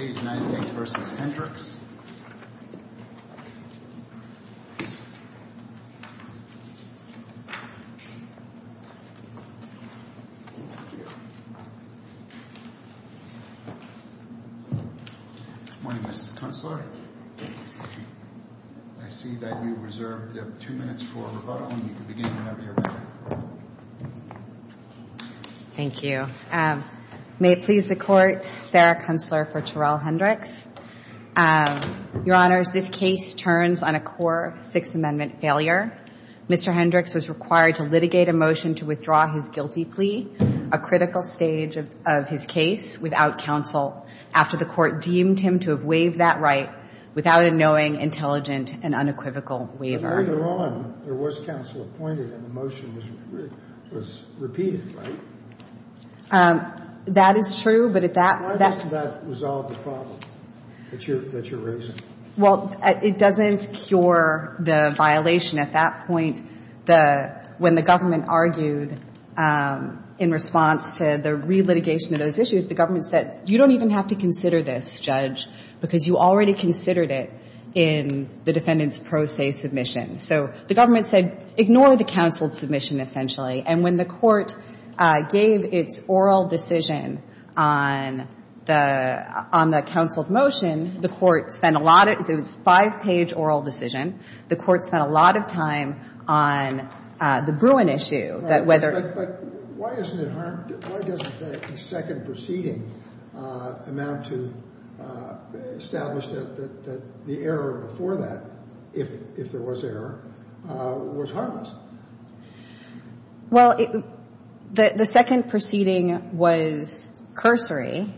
Good morning, Ms. Kuntzler. I see that you reserved two minutes for rebuttal. You can begin whenever you're ready. Thank you. May it please the Court, Sarah Kuntzler for Terrell Hendrix. Your Honors, this case turns on a core Sixth Amendment failure. Mr. Hendrix was required to litigate a motion to withdraw his guilty plea, a critical stage of his case, without counsel, after the Court deemed him to have waived that right without a knowing, intelligent, and unequivocal waiver. Later on, there was counsel appointed and the motion was repeated, right? That is true, but at that — Why doesn't that resolve the problem that you're raising? Well, it doesn't cure the violation. At that point, when the government argued in response to the relitigation of those issues, the government said, you don't even have to consider this, Judge, because you already considered it in the defendant's pro se submission. So the government said, ignore the counsel's submission, essentially. And when the Court gave its oral decision on the counsel's motion, the Court spent a lot of — it was a five-page oral decision. The Court spent a lot of time on the Bruin issue, that whether — But why isn't it harmed? Why doesn't the second proceeding amount to establish that the error before that, if there was error, was harmless? Well, the second proceeding was cursory,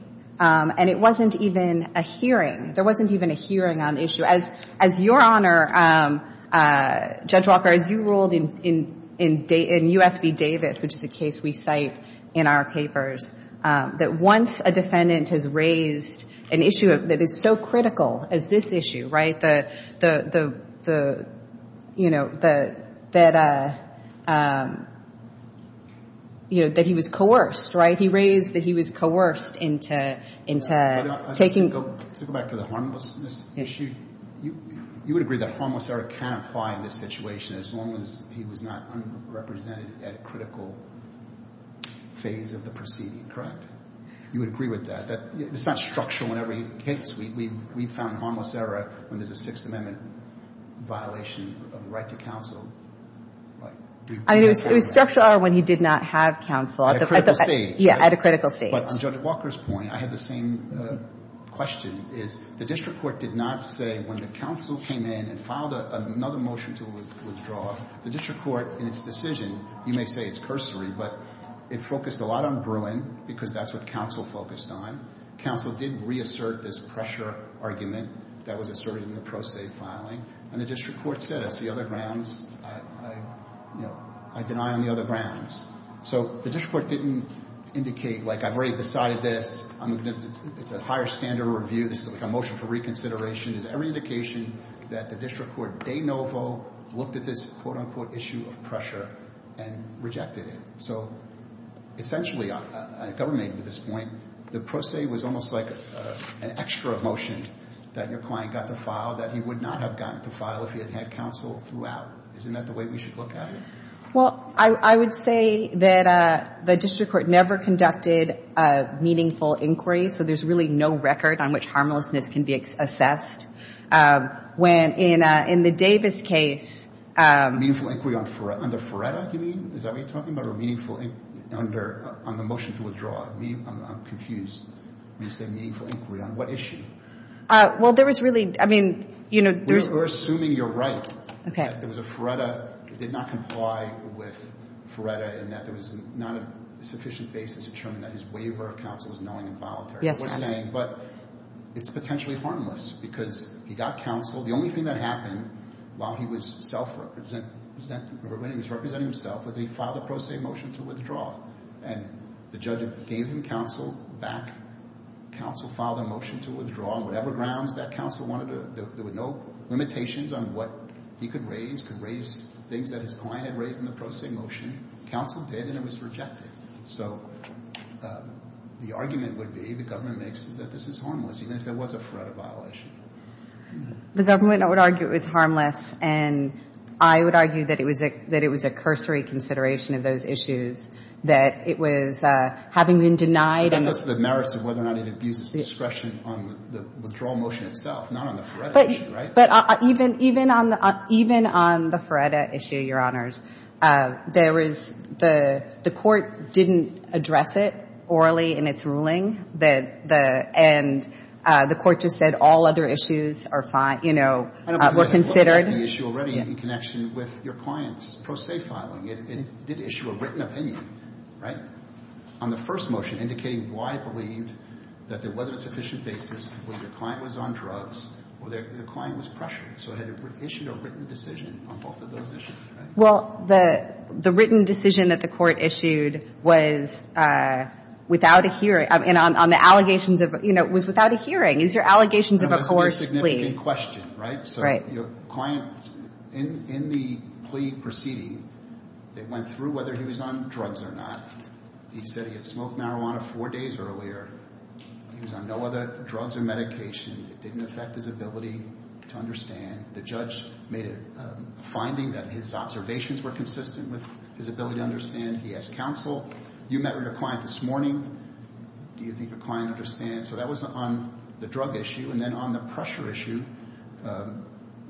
and it wasn't even a hearing. There wasn't even a hearing on the issue. As Your Honor, Judge Walker, as you ruled in U.S. v. Davis, which is a case we cite in our papers, that once a defendant has raised an issue that is so critical as this issue, right, the — you know, that he was coerced, right? He raised that he was coerced into taking — To go back to the harmlessness issue, you would agree that harmless error can apply in this situation as long as he was not unrepresented at a critical phase of the proceeding, correct? You would agree with that, that it's not structural in every case. We found harmless error when there's a Sixth Amendment violation of the right to counsel. I mean, it was structural when he did not have counsel. At a critical stage. Yeah, at a critical stage. But on Judge Walker's point, I had the same question, is the district court did not say when the counsel came in and filed another motion to withdraw, the district court, in its decision — you may say it's cursory, but it focused a lot on Bruin because that's what counsel focused on. Counsel did reassert this pressure argument that was asserted in the pro se filing, and the district court said, as the other grounds, you know, I deny on the other grounds. So the district court didn't indicate, like, I've already decided this. It's a higher standard review. This is a motion for reconsideration. There's every indication that the district court de novo looked at this, quote, unquote, issue of pressure and rejected it. So essentially, a government at this point, the pro se was almost like an extra motion that your client got to file that he would not have gotten to file if he had had counsel throughout. Isn't that the way we should look at it? Well, I would say that the district court never conducted a meaningful inquiry, so there's really no record on which harmlessness can be assessed. When, in the Davis case — Meaningful inquiry under FRERETA, you mean? Is that what you're talking about, or meaningful — under — on the motion to withdraw? I'm confused when you say meaningful inquiry. On what issue? Well, there was really — I mean, you know, there's — We're assuming you're right. Okay. If there was a FRERETA that did not comply with FRERETA and that there was not a sufficient basis to determine that his waiver of counsel was knowing and voluntary — Yes, Your Honor. — we're saying, but it's potentially harmless because he got counsel. The only thing that happened while he was self-representing — when he was representing himself was he filed a pro se motion to withdraw, and the judge gave him counsel back. Counsel filed a motion to withdraw on whatever grounds that counsel wanted to. There were no limitations on what he could raise, could raise things that his client had raised in the pro se motion. Counsel did, and it was rejected. So the argument would be, the government makes, is that this is harmless, even if there was a FRERETA violation. The government would argue it was harmless, and I would argue that it was a — that it was a cursory consideration of those issues, that it was — having been denied — But then this is the merits of whether or not it abuses discretion on the withdrawal motion itself, not on the FRERETA issue, right? But even — even on the FRERETA issue, Your Honors, there was — the court didn't address it orally in its ruling. The — and the court just said all other issues are fine — you know, were considered. I don't believe they looked at the issue already in connection with your client's filing. It did issue a written opinion, right, on the first motion, indicating why it believed that there wasn't a sufficient basis to believe the client was on drugs or their — the client was pressured. So it had issued a written decision on both of those issues, right? Well, the — the written decision that the court issued was without a hearing — I mean, on the allegations of — you know, it was without a hearing. These are allegations of a coerced plea. Unless it was a significant question, right? Right. Your client, in the plea proceeding, they went through whether he was on drugs or not. He said he had smoked marijuana four days earlier. He was on no other drugs or medication. It didn't affect his ability to understand. The judge made a finding that his observations were consistent with his ability to understand. He asked counsel, you met with your client this morning. Do you think your client understands? So that was on the drug issue. And then on the pressure issue,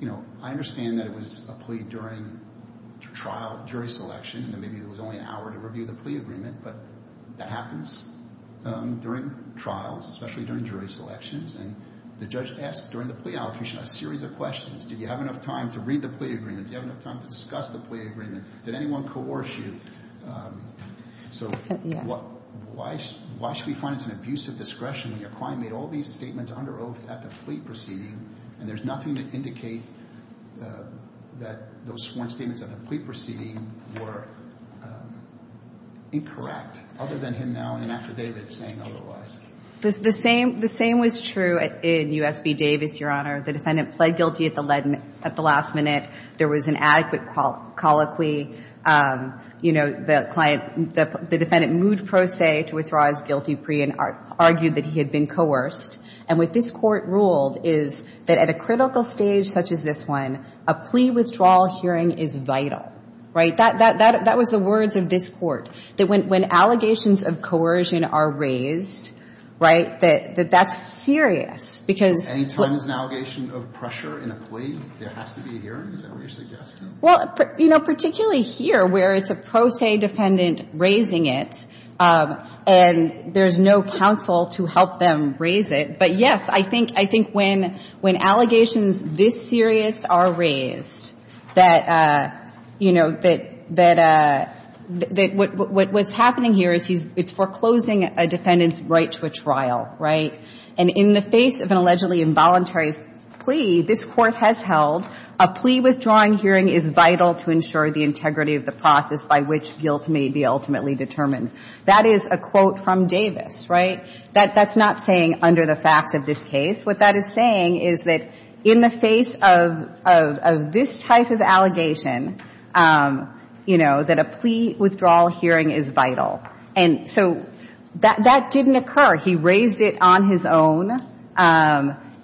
you know, I understand that it was a plea during trial, jury selection, and maybe it was only an hour to review the plea agreement, but that happens during trials, especially during jury selections. And the judge asked during the plea allocation a series of questions. Do you have enough time to read the plea agreement? Do you have enough time to discuss the plea agreement? Did anyone coerce you? Yeah. Why should we find it's an abuse of discretion when your client made all these statements under oath at the plea proceeding, and there's nothing to indicate that those sworn statements at the plea proceeding were incorrect, other than him now in an affidavit saying otherwise? The same was true in U.S. v. Davis, Your Honor. The defendant pled guilty at the last minute. There was an adequate colloquy. You know, the client, the defendant moved pro se to withdraw his guilty plea and argued that he had been coerced. And what this Court ruled is that at a critical stage such as this one, a plea withdrawal hearing is vital, right? That was the words of this Court, that when allegations of coercion are raised, right, that that's serious, because Any time there's an allegation of pressure in a plea, there has to be a hearing? Is that what you're suggesting? Well, you know, particularly here where it's a pro se defendant raising it, and there's no counsel to help them raise it. But, yes, I think when allegations this serious are raised, that, you know, that what's happening here is it's foreclosing a defendant's right to a trial, right? And in the face of an allegedly involuntary plea, this Court has held a plea withdrawing hearing is vital to ensure the integrity of the process by which guilt may be ultimately determined. That is a quote from Davis, right? That's not saying under the facts of this case. What that is saying is that in the face of this type of allegation, you know, that a plea withdrawal hearing is vital. And so that didn't occur. He raised it on his own.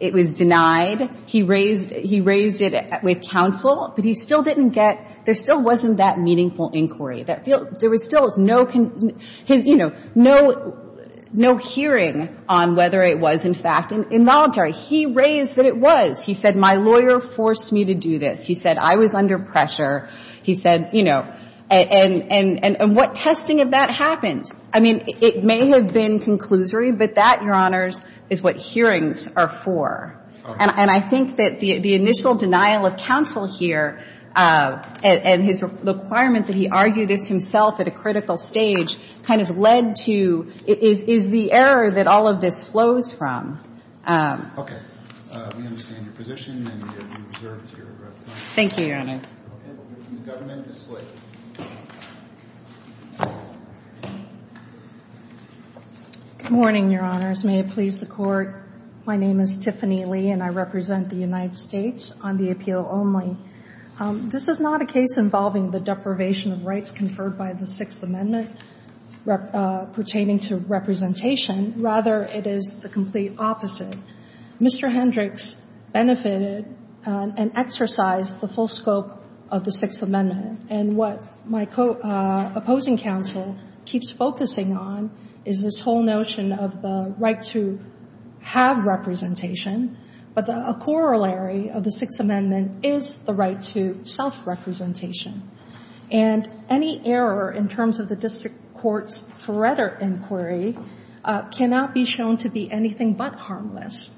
It was denied. He raised it with counsel, but he still didn't get, there still wasn't that meaningful inquiry. There was still no, you know, no hearing on whether it was, in fact, involuntary. He raised that it was. He said my lawyer forced me to do this. He said I was under pressure. He said, you know, and what testing of that happened? I mean, it may have been conclusory, but that, Your Honors, is what hearings are for. And I think that the initial denial of counsel here and his requirement that he argue this himself at a critical stage kind of led to, is the error that all of this flows from. Okay. We understand your position, and we reserve to your time. Thank you, Your Honors. Okay. We'll hear from the government. Ms. Slate. Good morning, Your Honors. May it please the Court. My name is Tiffany Lee, and I represent the United States on the appeal only. This is not a case involving the deprivation of rights conferred by the Sixth Amendment pertaining to representation. Rather, it is the complete opposite. Mr. Hendricks benefited and exercised the full scope of the Sixth Amendment. And what my opposing counsel keeps focusing on is this whole notion of the right to have representation, but a corollary of the Sixth Amendment is the right to self-representation. And any error in terms of the district court's Feretta inquiry cannot be shown to be anything but harmless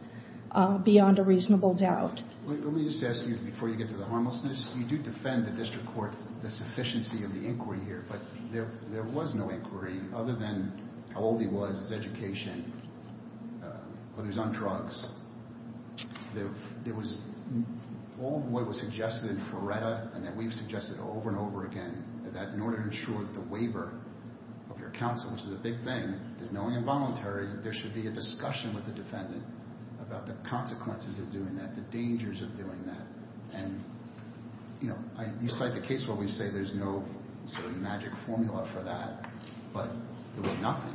beyond a reasonable doubt. Let me just ask you, before you get to the harmlessness, you do defend the district court, the sufficiency of the inquiry here, but there was no inquiry other than how old he was, his education, whether he was on drugs. There was all of what was suggested in Feretta and that we've suggested over and over again that in order to ensure that the waiver of your counsel, which is a big thing, is knowingly involuntary, there should be a discussion with the defendant about the consequences of doing that, the dangers of doing that. And you cite the case where we say there's no magic formula for that, but there was nothing.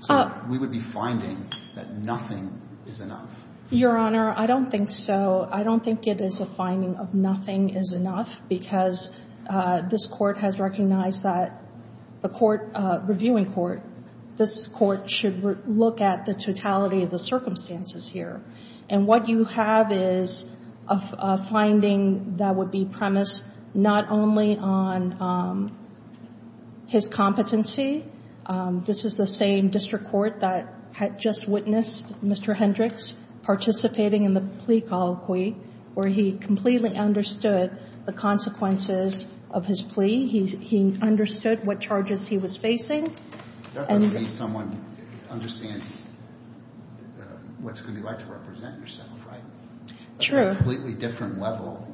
So we would be finding that nothing is enough. Your Honor, I don't think so. I don't think it is a finding of nothing is enough because this Court has recognized that the Court, reviewing Court, this Court should look at the totality of the circumstances here. And what you have is a finding that would be premised not only on his competency. This is the same district court that had just witnessed Mr. Hendricks participating in the plea colloquy where he completely understood the consequences of his plea. He understood what charges he was facing. That must mean someone understands what it's going to be like to represent yourself, right? True. On a completely different level,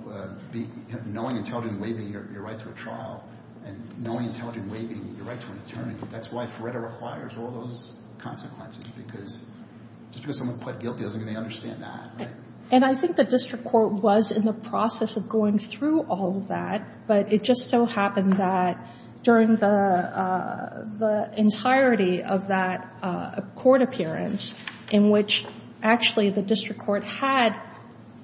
knowing intelligently waiving your right to a trial and knowing intelligently waiving your right to an attorney, I think that's why FREDA requires all those consequences, because just because someone pled guilty doesn't mean they understand that, right? And I think the district court was in the process of going through all of that, but it just so happened that during the entirety of that court appearance in which actually the district court had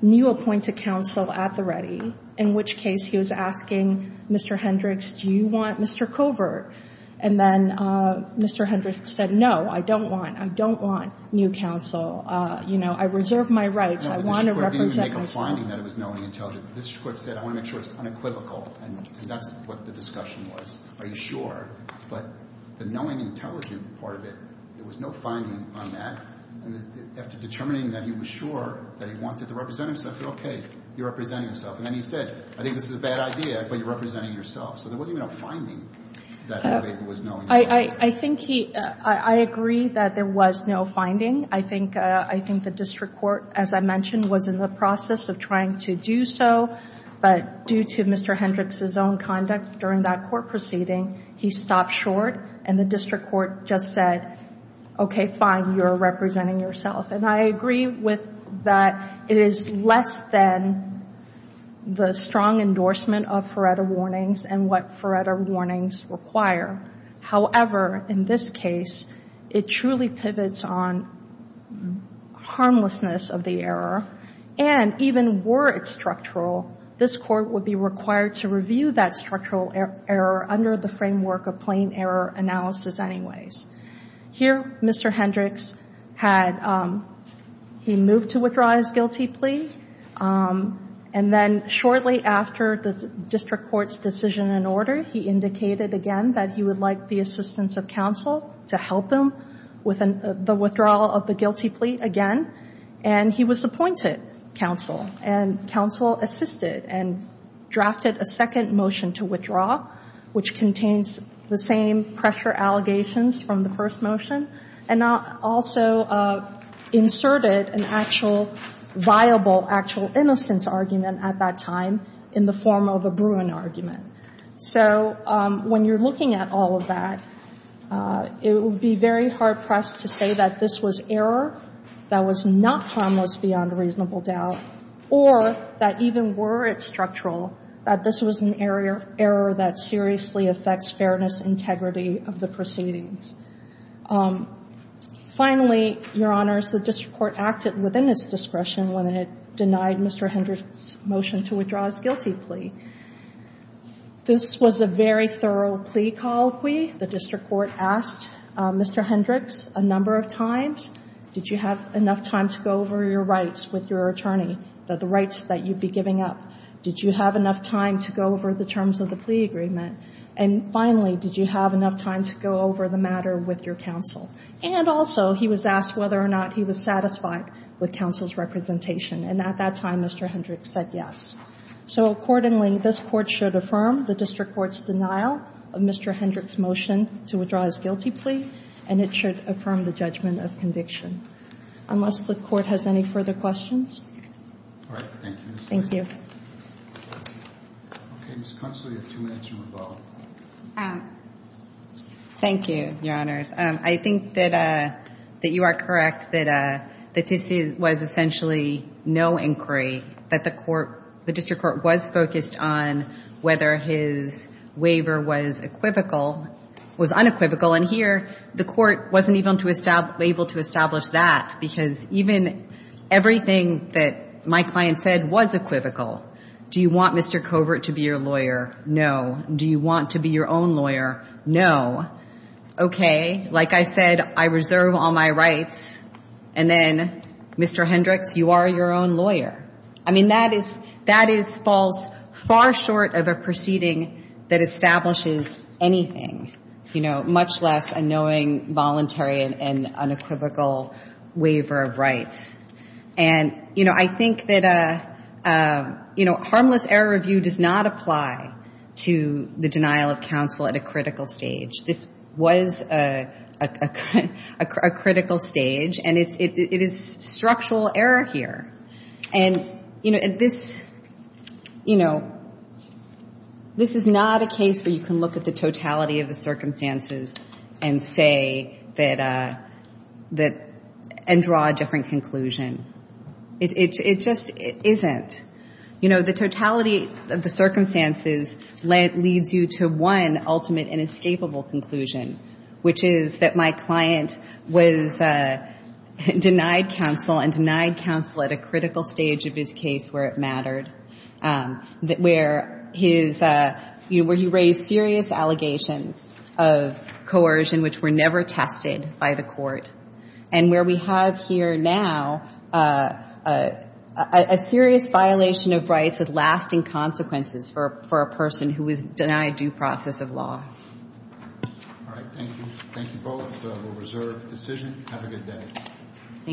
new appointed counsel at the ready, in which case he was asking Mr. Hendricks, do you want Mr. Covert? And then Mr. Hendricks said, no, I don't want, I don't want new counsel. You know, I reserve my rights. I want to represent myself. The district court didn't even make a finding that it was knowing intelligently. The district court said, I want to make sure it's unequivocal. And that's what the discussion was. Are you sure? But the knowing intelligently part of it, there was no finding on that. And after determining that he was sure that he wanted to represent himself, said, okay, you're representing yourself. And then he said, I think this is a bad idea, but you're representing yourself. So there wasn't even a finding that it was knowing intelligently. I think he – I agree that there was no finding. I think the district court, as I mentioned, was in the process of trying to do so. But due to Mr. Hendricks' own conduct during that court proceeding, he stopped short and the district court just said, okay, fine, you're representing yourself. And I agree with that it is less than the strong endorsement of Feretta warnings and what Feretta warnings require. However, in this case, it truly pivots on harmlessness of the error. And even were it structural, this court would be required to review that structural error under the framework of plain error analysis anyways. Here, Mr. Hendricks had – he moved to withdraw his guilty plea. And then shortly after the district court's decision and order, he indicated again that he would like the assistance of counsel to help him with the withdrawal of the guilty plea again. And he was appointed counsel. And counsel assisted and drafted a second motion to withdraw, which contains the same pressure allegations from the first motion and also inserted an actual viable, actual innocence argument at that time in the form of a Bruin argument. So when you're looking at all of that, it would be very hard-pressed to say that this was error that was not harmless beyond reasonable doubt or that even were it structural that this was an error that seriously affects fairness, integrity of the proceedings. Finally, Your Honors, the district court acted within its discretion when it denied Mr. Hendricks' motion to withdraw his guilty plea. This was a very thorough plea colloquy. The district court asked Mr. Hendricks a number of times, did you have enough time to go over your rights with your attorney, the rights that you'd be giving up? Did you have enough time to go over the terms of the plea agreement? And finally, did you have enough time to go over the matter with your counsel? And also, he was asked whether or not he was satisfied with counsel's representation. And at that time, Mr. Hendricks said yes. So accordingly, this Court should affirm the district court's denial of Mr. Hendricks' motion to withdraw his guilty plea, and it should affirm the judgment of conviction. Unless the Court has any further questions. All right. Thank you. Thank you. Okay. Ms. Constley, you have two minutes to revoke. Thank you, Your Honors. I think that you are correct that this was essentially no inquiry, that the court the district court was focused on whether his waiver was equivocal, was unequivocal. And here, the court wasn't even able to establish that, because even everything that my client said was equivocal. Do you want Mr. Covert to be your lawyer? No. Do you want to be your own lawyer? No. Okay. Like I said, I reserve all my rights. And then, Mr. Hendricks, you are your own lawyer. I mean, that is false, far short of a proceeding that establishes anything, you know, And, you know, I think that, you know, harmless error review does not apply to the denial of counsel at a critical stage. This was a critical stage, and it is structural error here. And, you know, this, you know, this is not a case where you can look at the totality of the circumstances and say that, and draw a different conclusion. It just isn't. You know, the totality of the circumstances leads you to one ultimate inescapable conclusion, which is that my client was denied counsel and denied counsel at a critical stage of his case where it mattered, where his, you know, where he raised serious allegations of coercion, which were never tested by the court. And where we have here now a serious violation of rights with lasting consequences for a person who was denied due process of law. All right. Thank you. Thank you both. We'll reserve the decision. Have a good day. Thank you.